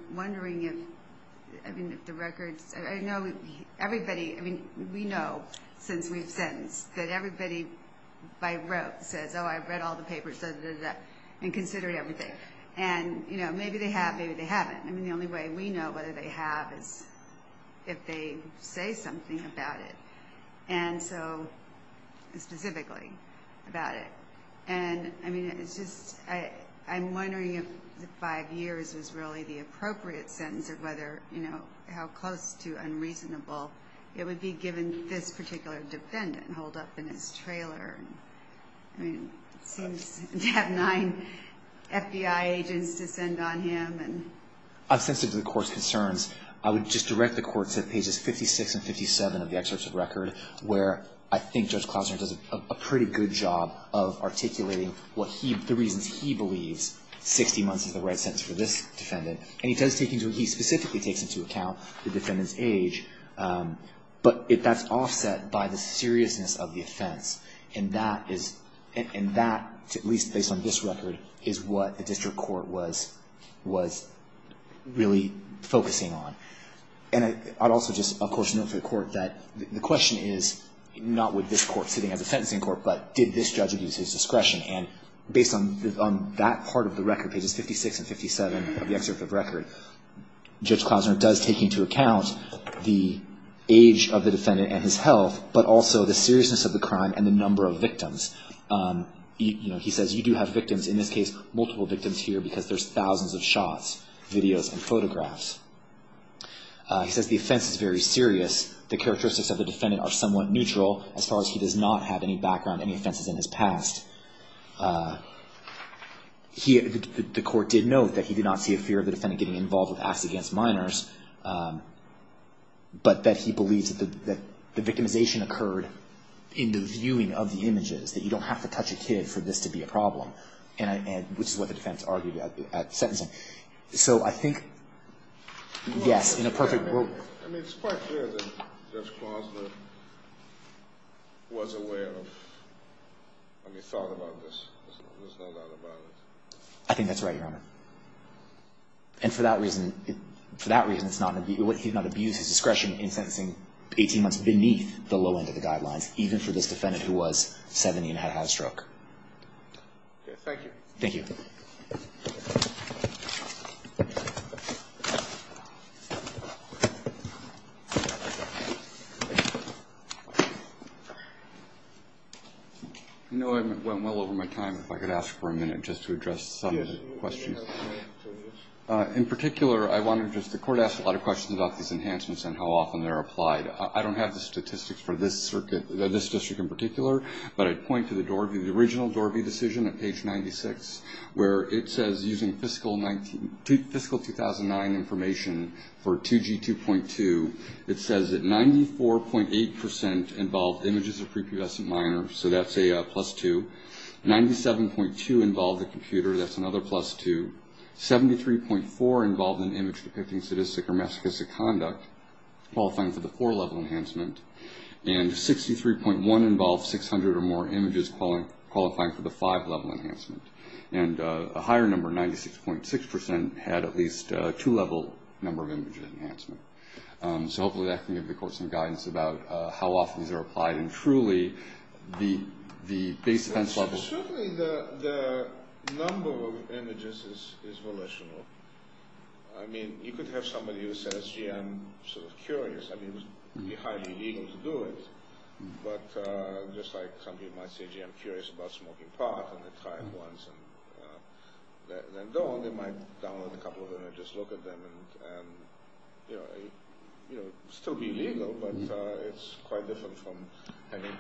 we know since we've sentenced that everybody by rote says, oh, I read all the papers and considered everything. And maybe they have, maybe they haven't. I mean, the only way we know whether they have is if they say something about it. And so specifically about it. And I mean, it's just I'm wondering if the five years was really the appropriate sentence or whether, you know, how close to unreasonable it would be given this particular defendant to hold up in his trailer. I mean, it seems to have nine FBI agents to send on him. I'm sensitive to the Court's concerns. I would just direct the Court to pages 56 and 57 of the excerpt of the record, where I think Judge Klausner does a pretty good job of articulating the reasons he believes 60 months is the right sentence for this defendant. And he does take into account, he specifically takes into account the defendant's age. But that's offset by the seriousness of the offense. And that, at least based on this record, is what the District Court was really focusing on. And I'd also just, of course, note to the Court that the question is not with this Court sitting as a sentencing court, but did this judge abuse his discretion. And based on that part of the record, pages 56 and 57 of the excerpt of the record, Judge Klausner does take into account the age of the defendant and his health, but also the seriousness of the crime and the number of victims. You know, he says you do have victims, in this case, multiple victims here because there's thousands of shots, videos, and photographs. He says the offense is very serious. The characteristics of the defendant are somewhat neutral as far as he does not have any background, any offenses in his past. The Court did note that he did not see a fear of the defendant getting involved with acts against minors, but that he believes that the victimization occurred in the viewing of the images, that you don't have to touch a kid for this to be a problem, which is what the defense argued at sentencing. So I think, yes, in a perfect world. I mean, it's quite clear that Judge Klausner was aware of, I mean, thought about this. There's no doubt about it. I think that's right, Your Honor. And for that reason, it's not, he did not abuse his discretion in sentencing 18 months beneath the low end of the guidelines, even for this defendant who was 70 and had a high stroke. Thank you. I know I went well over my time. If I could ask for a minute just to address some of the questions. In particular, I want to just, the Court asked a lot of questions about these enhancements and how often they're applied. I don't have the statistics for this circuit, this district in particular, but I'd point to the Dorby, the original Dorby decision at page 96, where it says using fiscal 2009 information for 2G 2.2, it says that 94.8% involved images of prepubescent minors, so that's a plus 2. 97.2 involved a computer, that's another plus 2. 73.4 involved an image depicting sadistic or masochistic conduct qualifying for the 4-level enhancement. And 63.1 involved 600 or more images qualifying for the 5-level enhancement. And a higher number, 96.6%, had at least a 2-level number of images enhancement. So hopefully that can give the Court some guidance about how often these are applied and truly the base defense level... Certainly the number of images is volitional. I mean, you could have somebody who says, gee, I'm sort of curious. I mean, it would be highly illegal to do it, but just like some people might say, gee, I'm curious about smoking pot, and they try it once and then don't, they might download a couple of images, look at them, and still be legal, but it's quite different from having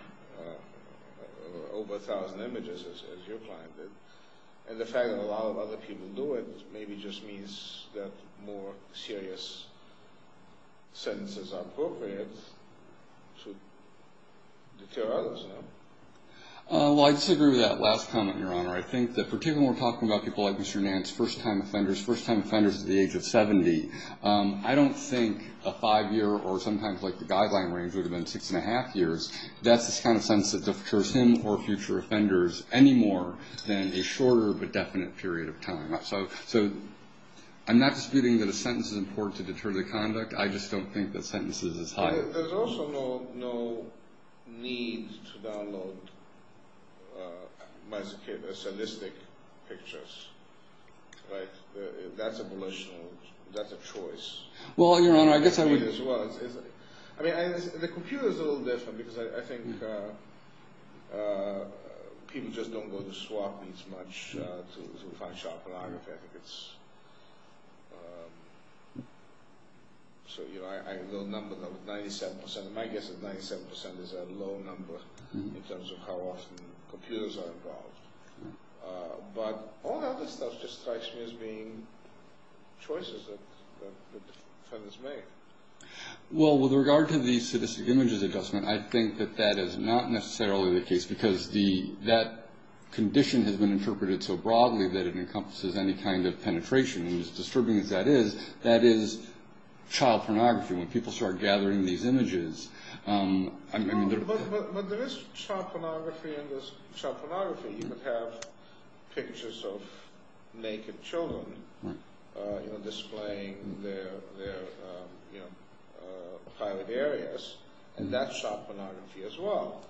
over 1,000 images, as your client did. And the fact that a lot of other people do it maybe just means that more serious sentences are appropriate to deter others, no? Well, I disagree with that last comment, Your Honor. I think that particularly when we're talking about people like Mr. Nantz, first-time offenders, first-time offenders at the age of 70, I don't think a five-year or sometimes like the guideline range would have been six-and-a-half years. That's the kind of sentence that deters him or future offenders any more than a shorter but definite period of time. So I'm not disputing that a sentence is important to deter the conduct. I just don't think that sentences as high... Well, there's also no need to download masochistic pictures, right? That's a choice. Well, Your Honor, I guess I would... I mean, the computer's a little different because I think people just don't go to swap these much to find sharp pornography. I think it's... So, you know, I have a little number that was 97%. My guess is 97% is a low number in terms of how often computers are involved. But all the other stuff just strikes me as being choices that the defendants make. Well, with regard to the sadistic images adjustment, I think that that is not necessarily the case because that condition has been interpreted so broadly that it encompasses any kind of penetration. And as disturbing as that is, that is child pornography. When people start gathering these images... But there is sharp pornography and there's sharp pornography. You could have pictures of naked children displaying their private areas, and that's sharp pornography as well.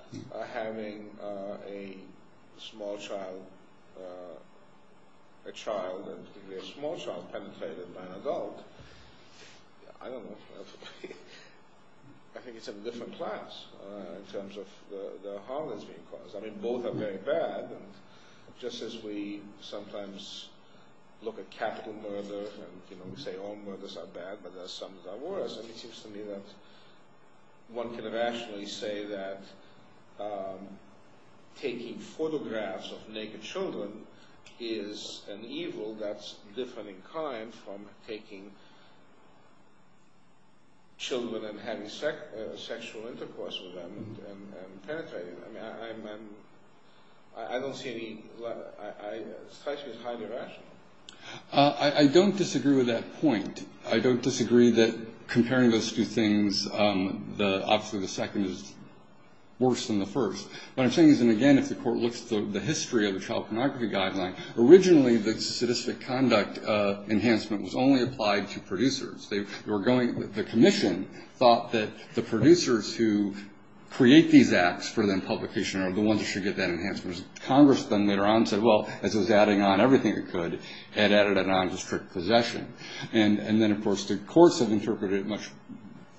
Having a small child, a child and a small child, penetrated by an adult, I don't know. I think it's a different class in terms of the harm that's being caused. I mean, both are very bad. And just as we sometimes look at capital murder, and we say all murders are bad, but some are worse, it seems to me that one can rationally say that taking photographs of naked children is an evil that's different in kind from taking children and having sexual intercourse with them and penetrating them. I don't see any... I don't disagree with that point. I don't disagree that comparing those two things, obviously the second is worse than the first. What I'm saying is, and again, if the court looks at the history of the child pornography guideline, originally the sadistic conduct enhancement was only applied to producers. The commission thought that the producers who create these acts for then publication are the ones who should get that enhancement. Congress then later on said, well, as it was adding on everything it could, it added a nondestructive possession. And then, of course, the courts have interpreted it much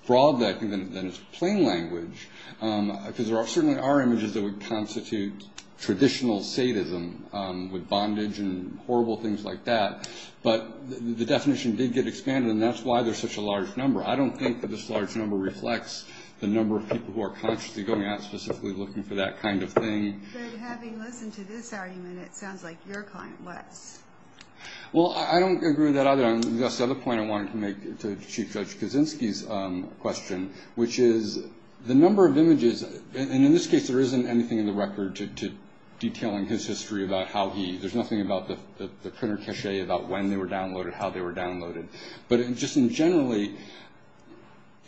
broader than its plain language, because there certainly are images that would constitute traditional sadism with bondage and horrible things like that. But the definition did get expanded, and that's why there's such a large number. I don't think that this large number reflects the number of people who are consciously going out specifically looking for that kind of thing. But having listened to this argument, it sounds like your client was. Well, I don't agree with that either, and that's the other point I wanted to make to Chief Judge Kaczynski's question, which is the number of images, and in this case there isn't anything in the record detailing his history about how he, there's nothing about the printer cache about when they were downloaded, how they were downloaded. But just generally,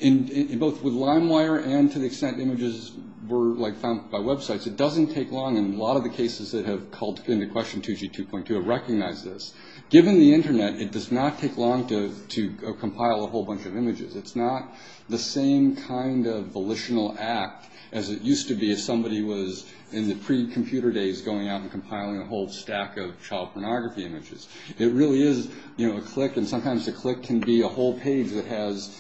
both with LimeWire and to the extent images were found by websites, it doesn't take long, and a lot of the cases that have called into question 2G2.2 have recognized this. Given the Internet, it does not take long to compile a whole bunch of images. It's not the same kind of volitional act as it used to be if somebody was in the pre-computer days going out and compiling a whole stack of child pornography images. It really is a click, and sometimes a click can be a whole page that has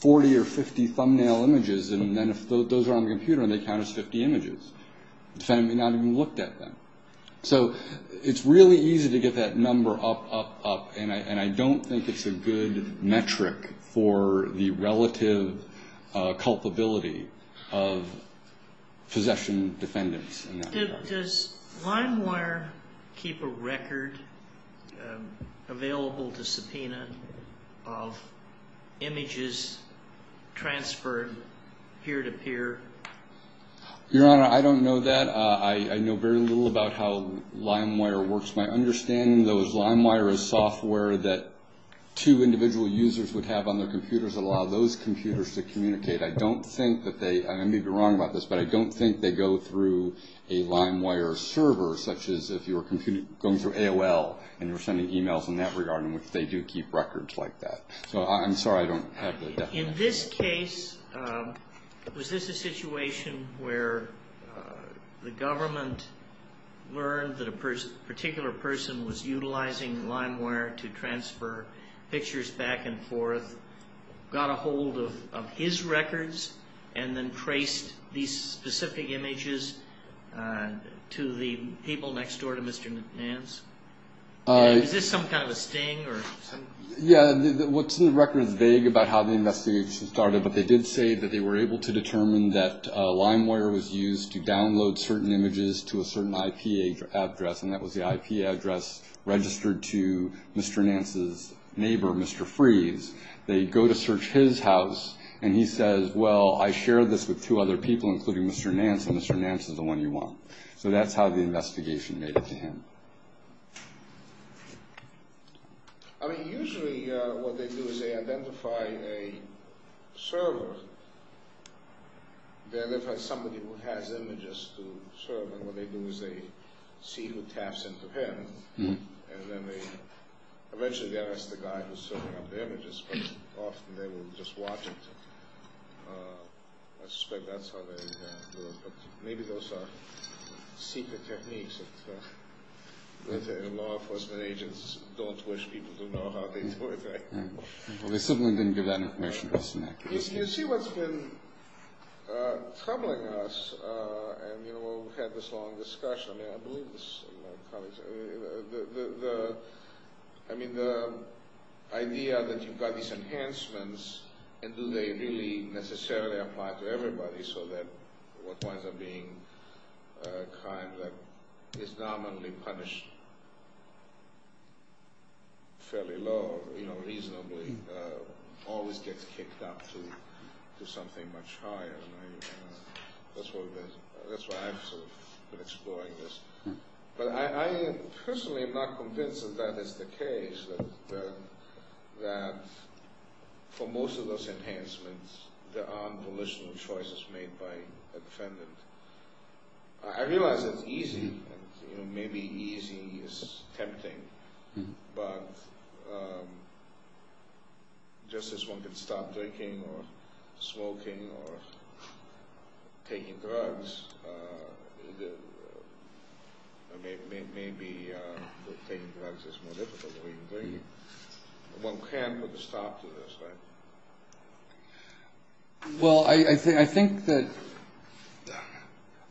40 or 50 thumbnail images, and then if those are on the computer and they count as 50 images, the defendant may not have even looked at them. So it's really easy to get that number up, up, up, and I don't think it's a good metric for the relative culpability of possession defendants in that regard. But does LimeWire keep a record available to subpoena of images transferred peer-to-peer? Your Honor, I don't know that. I know very little about how LimeWire works. My understanding, though, is LimeWire is software that two individual users would have on their computers that allow those computers to communicate. And LimeWire servers, such as if you're going through AOL and you're sending emails in that regard, in which they do keep records like that. In this case, was this a situation where the government learned that a particular person was utilizing LimeWire to transfer pictures back and forth, got a hold of his records, and then traced these specific images to the people next door to Mr. Nance? Is this some kind of a sting? Yeah. What's in the record is vague about how the investigation started, but they did say that they were able to determine that LimeWire was used to download certain images to a certain IP address, and that was the IP address registered to Mr. Nance's neighbor, Mr. Freeze. They go to search his house, and he says, Well, I shared this with two other people, including Mr. Nance, and Mr. Nance is the one you want. So that's how the investigation made it to him. I mean, usually what they do is they identify a server. They identify somebody who has images to serve, and what they do is they see who taps into him, and then they eventually get us the guy who's serving up the images, but often they will just watch it. I suspect that's how they do it, but maybe those are secret techniques that law enforcement agents don't wish people to know how they do it. Well, they simply didn't give that information to us. You see what's been troubling us, and we've had this long discussion. I mean, the idea that you've got these enhancements, and do they really necessarily apply to everybody, so that what winds up being a crime that is nominally punished fairly low, you know, reasonably, always gets kicked out. You know, you end up to something much higher, and that's why I've sort of been exploring this. But I personally am not convinced that that is the case, that for most of those enhancements, there aren't volitional choices made by a defendant. I realize it's easy, and maybe easy is tempting, but just as one can stop drinking or smoking or taking drugs, maybe taking drugs is more difficult than drinking. One can't put a stop to this, right? Well, I think that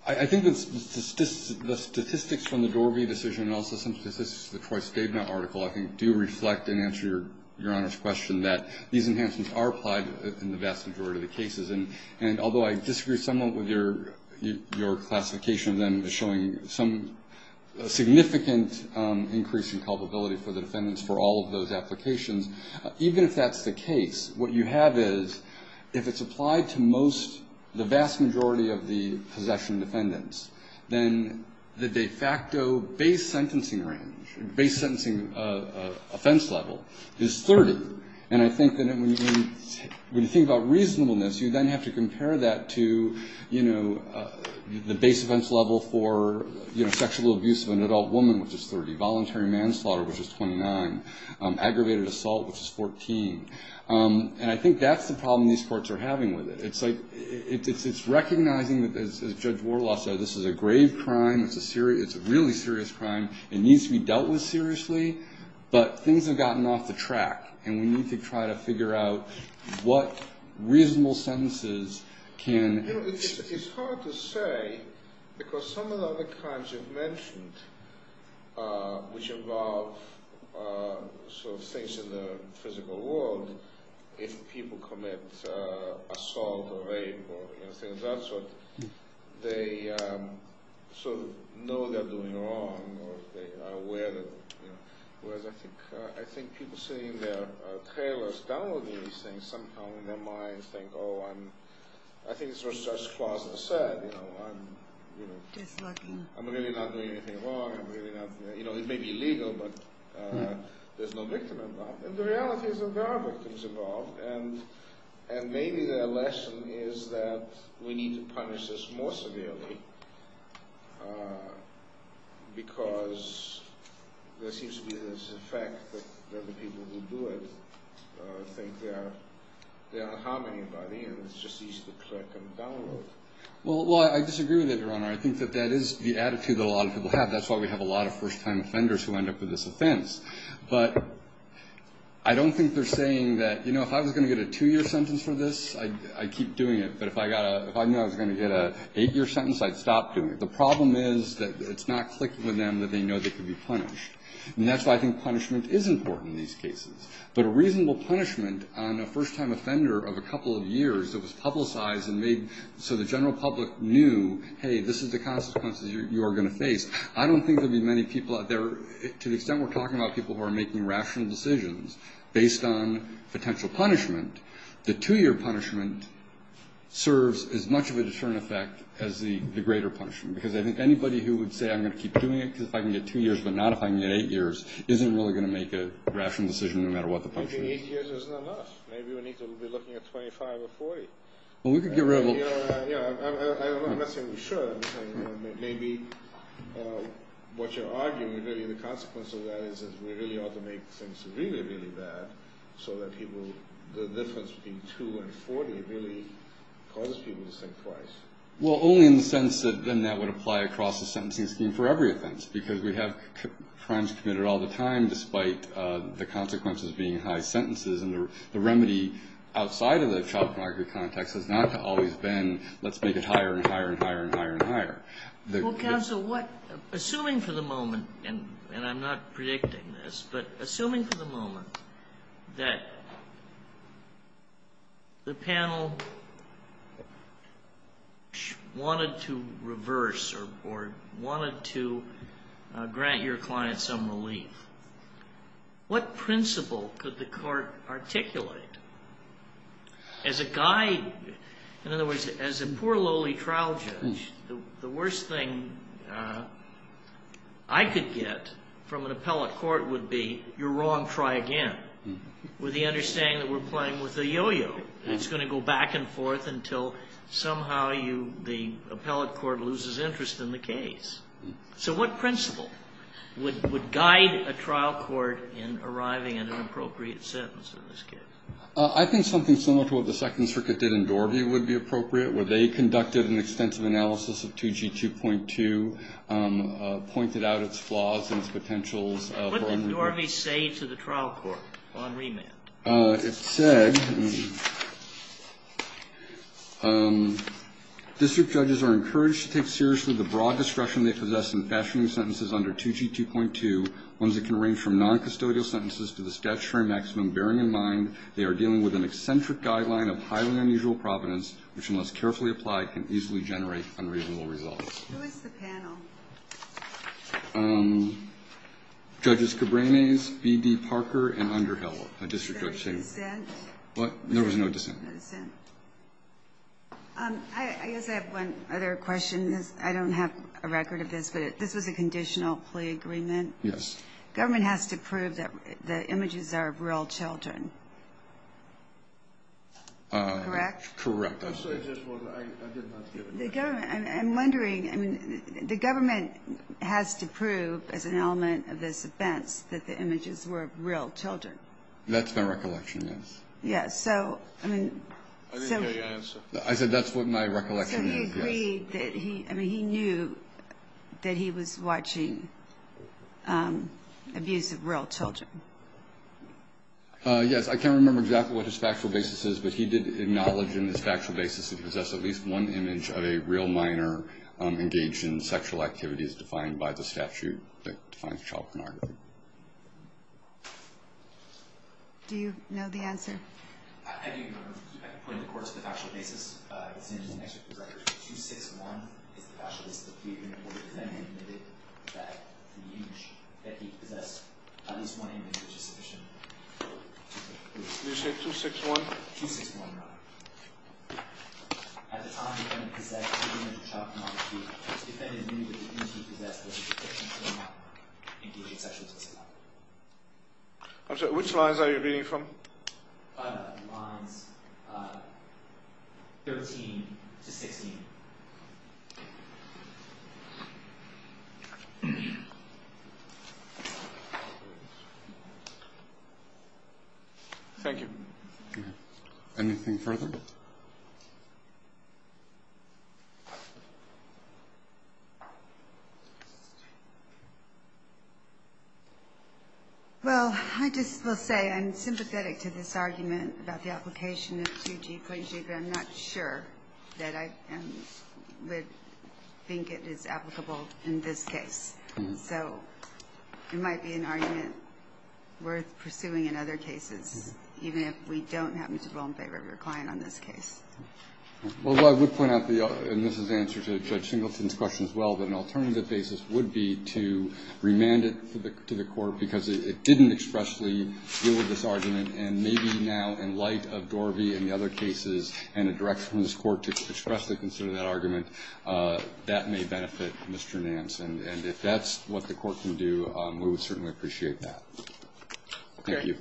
the statistics from the Dorby decision and also some statistics from the Choice Statement article, I think, do reflect and answer Your Honor's question that these enhancements are applied in the vast majority of the cases. And although I disagree somewhat with your classification of them as showing some significant increase in culpability for the defendants for all of those applications, even if that's the case, what you have is, if it's applied to most, the vast majority of the possession defendants, then the de facto base sentencing range, base sentencing offense level, is 30. And I think that when you think about reasonableness, you then have to compare that to, you know, the base offense level for, you know, sexual abuse of an adult woman, which is 30, voluntary manslaughter, which is 29, aggravated assault, which is 14. And I think that's the problem these courts are having with it. It's like, it's recognizing that, as Judge Warloff said, this is a grave crime, it's a really serious crime, it needs to be dealt with seriously, but things have gotten off the track, and we need to try to figure out what reasonable sentences can... You know, it's hard to say, because some of the other crimes you've mentioned, which involve sort of things in the physical world, if people commit assault or rape or, you know, things of that sort, they sort of know they're doing wrong, or they are aware that, you know. Whereas I think people sitting there, trailers, downloading these things, somehow in their minds think, oh, I'm, I think it's what Judge Claus has said, you know, I'm really not doing anything wrong, I'm really not... You know, it may be illegal, but there's no victim involved. And the reality is that there are victims involved, and maybe their lesson is that we need to punish this more severely, because there seems to be this effect that the people who do it think they're harming anybody, and it's just easy to click and download. Well, I disagree with that, Your Honor. I think that is the attitude that a lot of people have. That's why we have a lot of first-time offenders who end up with this offense. But I don't think they're saying that, you know, if I was going to get a two-year sentence for this, I'd keep doing it, but if I knew I was going to get an eight-year sentence, I'd stop doing it. The problem is that it's not clicking with them that they know they could be punished. And that's why I think punishment is important in these cases. But a reasonable punishment on a first-time offender of a couple of years that was publicized and made so the general public knew, hey, this is the consequences you are going to face, I don't think there'd be many people out there, to the extent we're talking about people who are making rational decisions based on potential punishment. The two-year punishment serves as much of a deterrent effect as the greater punishment, because I think anybody who would say I'm going to keep doing it because if I can get two years but not if I can get eight years isn't really going to make a rational decision no matter what the punishment is. Maybe eight years isn't enough. Maybe we need to be looking at 25 or 40. I'm not saying we should. Maybe what you're arguing, the consequence of that is that we really ought to make things really, really bad so that the difference between two and 40 really causes people to think twice. Well, only in the sense that then that would apply across the sentencing scheme for every offense, because we have crimes committed all the time despite the consequences being high sentences, and the remedy outside of the child pornography context has not always been let's make it higher and higher and higher and higher and higher. Well, counsel, assuming for the moment, and I'm not predicting this, but assuming for the moment that the panel wanted to reverse or wanted to grant your client some relief, what principle could the court articulate as a guide? In other words, as a poor lowly trial judge, the worst thing I could get from an appellate court would be, you're wrong, try again, with the understanding that we're playing with a yo-yo. It's going to go back and forth until somehow the appellate court loses interest in the case. So what principle would guide a trial court in arriving at an appropriate sentence in this case? I think something similar to what the Second Circuit did in Dorby would be appropriate, where they conducted an extensive analysis of 2G2.2, pointed out its flaws and its potentials. What did Dorby say to the trial court on remand? It said, District judges are encouraged to take seriously the broad discretion they possess in fashioning sentences under 2G2.2, ones that can range from noncustodial sentences to the statutory maximum, bearing in mind they are dealing with an eccentric guideline of highly unusual providence, which, unless carefully applied, can easily generate unreasonable results. Who is the panel? Judges Cabranes, B.D. Parker, and Underhill. There was no dissent. I guess I have one other question. I don't have a record of this, but this was a conditional plea agreement. Yes. Government has to prove that the images are of real children. Correct? Correct. I'm wondering. That's my recollection, yes. I didn't hear your answer. I said that's what my recollection is, yes. So he agreed that he knew that he was watching abuse of real children. Yes. I can't remember exactly what his factual basis is, but he did acknowledge in his factual basis it possessed at least one image of a real minor engaged in sexual activities defined by the statute that defines child pornography. Do you know the answer? I do. I can point to the court's factual basis. 261 is the factual basis of the plea agreement where the defendant admitted that the image that he possessed, at least one image, was sufficient. Did you say 261? 261, Your Honor. At the time the defendant possessed two images of child pornography, the defendant admitted that the image he possessed was sufficient for a minor engaged in sexual activity. I'm sorry, which lines are you reading from? Lines 13 to 16. Thank you. Anything further? Well, I just will say I'm sympathetic to this argument about the application of 2G. I'm not sure that I would think it is applicable in this case. So it might be an argument worth pursuing in other cases, even if we don't happen to fall in favor of your client on this case. Well, I would point out, and this is in answer to Judge Singleton's question as well, that an alternative basis would be to remand it to the court, because it didn't expressly deal with this argument, and maybe now in light of Dorvey and the other cases and a direction from this court to expressly consider that argument, that may benefit Mr. Nance. And if that's what the court can do, we would certainly appreciate that. Thank you.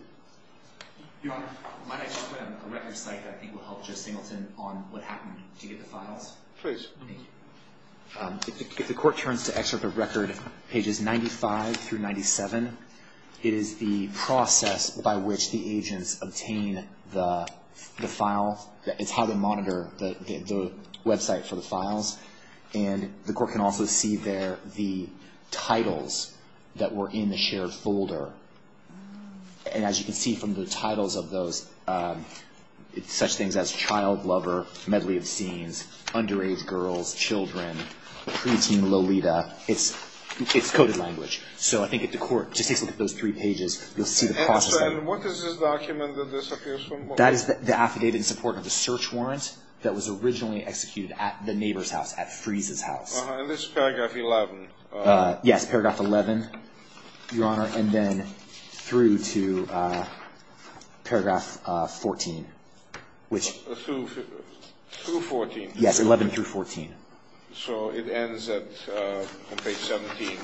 Your Honor, might I just put up a record site that I think will help Judge Singleton on what happened to get the files? Please. If the court turns to excerpt of record pages 95 through 97, it is the process by which the agents obtain the file. It's how they monitor the website for the files. And the court can also see there the titles that were in the shared folder. And as you can see from the titles of those, it's such things as Child Lover, Medley of Scenes, Underage Girls, Children, Preteen Lolita. It's coded language. So I think if the court just takes a look at those three pages, you'll see the process there. And what is this document that disappears from? That is the affidavit in support of the search warrant that was originally executed at the neighbor's house, at Friese's house. And this is paragraph 11? Yes, paragraph 11, Your Honor, and then through to paragraph 14. Through 14? Yes, 11 through 14. So it ends at page 17, page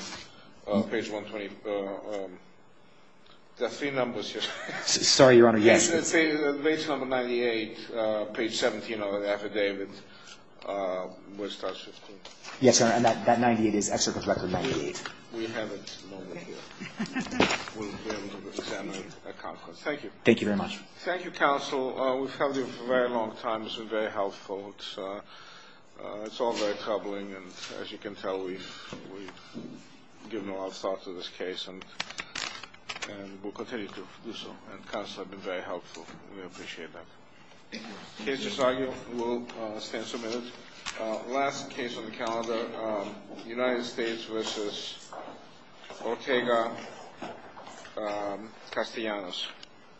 120. There are three numbers here. Sorry, Your Honor, yes. Page number 98, page 17 of the affidavit. Yes, Your Honor, and that 98 is extracurricular 98. We have it. Thank you. Thank you very much. Thank you, counsel. We've held you for a very long time. This was very helpful. It's all very troubling. And as you can tell, we've given a lot of thought to this case, and we'll continue to do so. And counsel has been very helpful. We appreciate that. The case is argued. We'll stand submitted. Last case on the calendar, United States v. Ortega-Castellanos.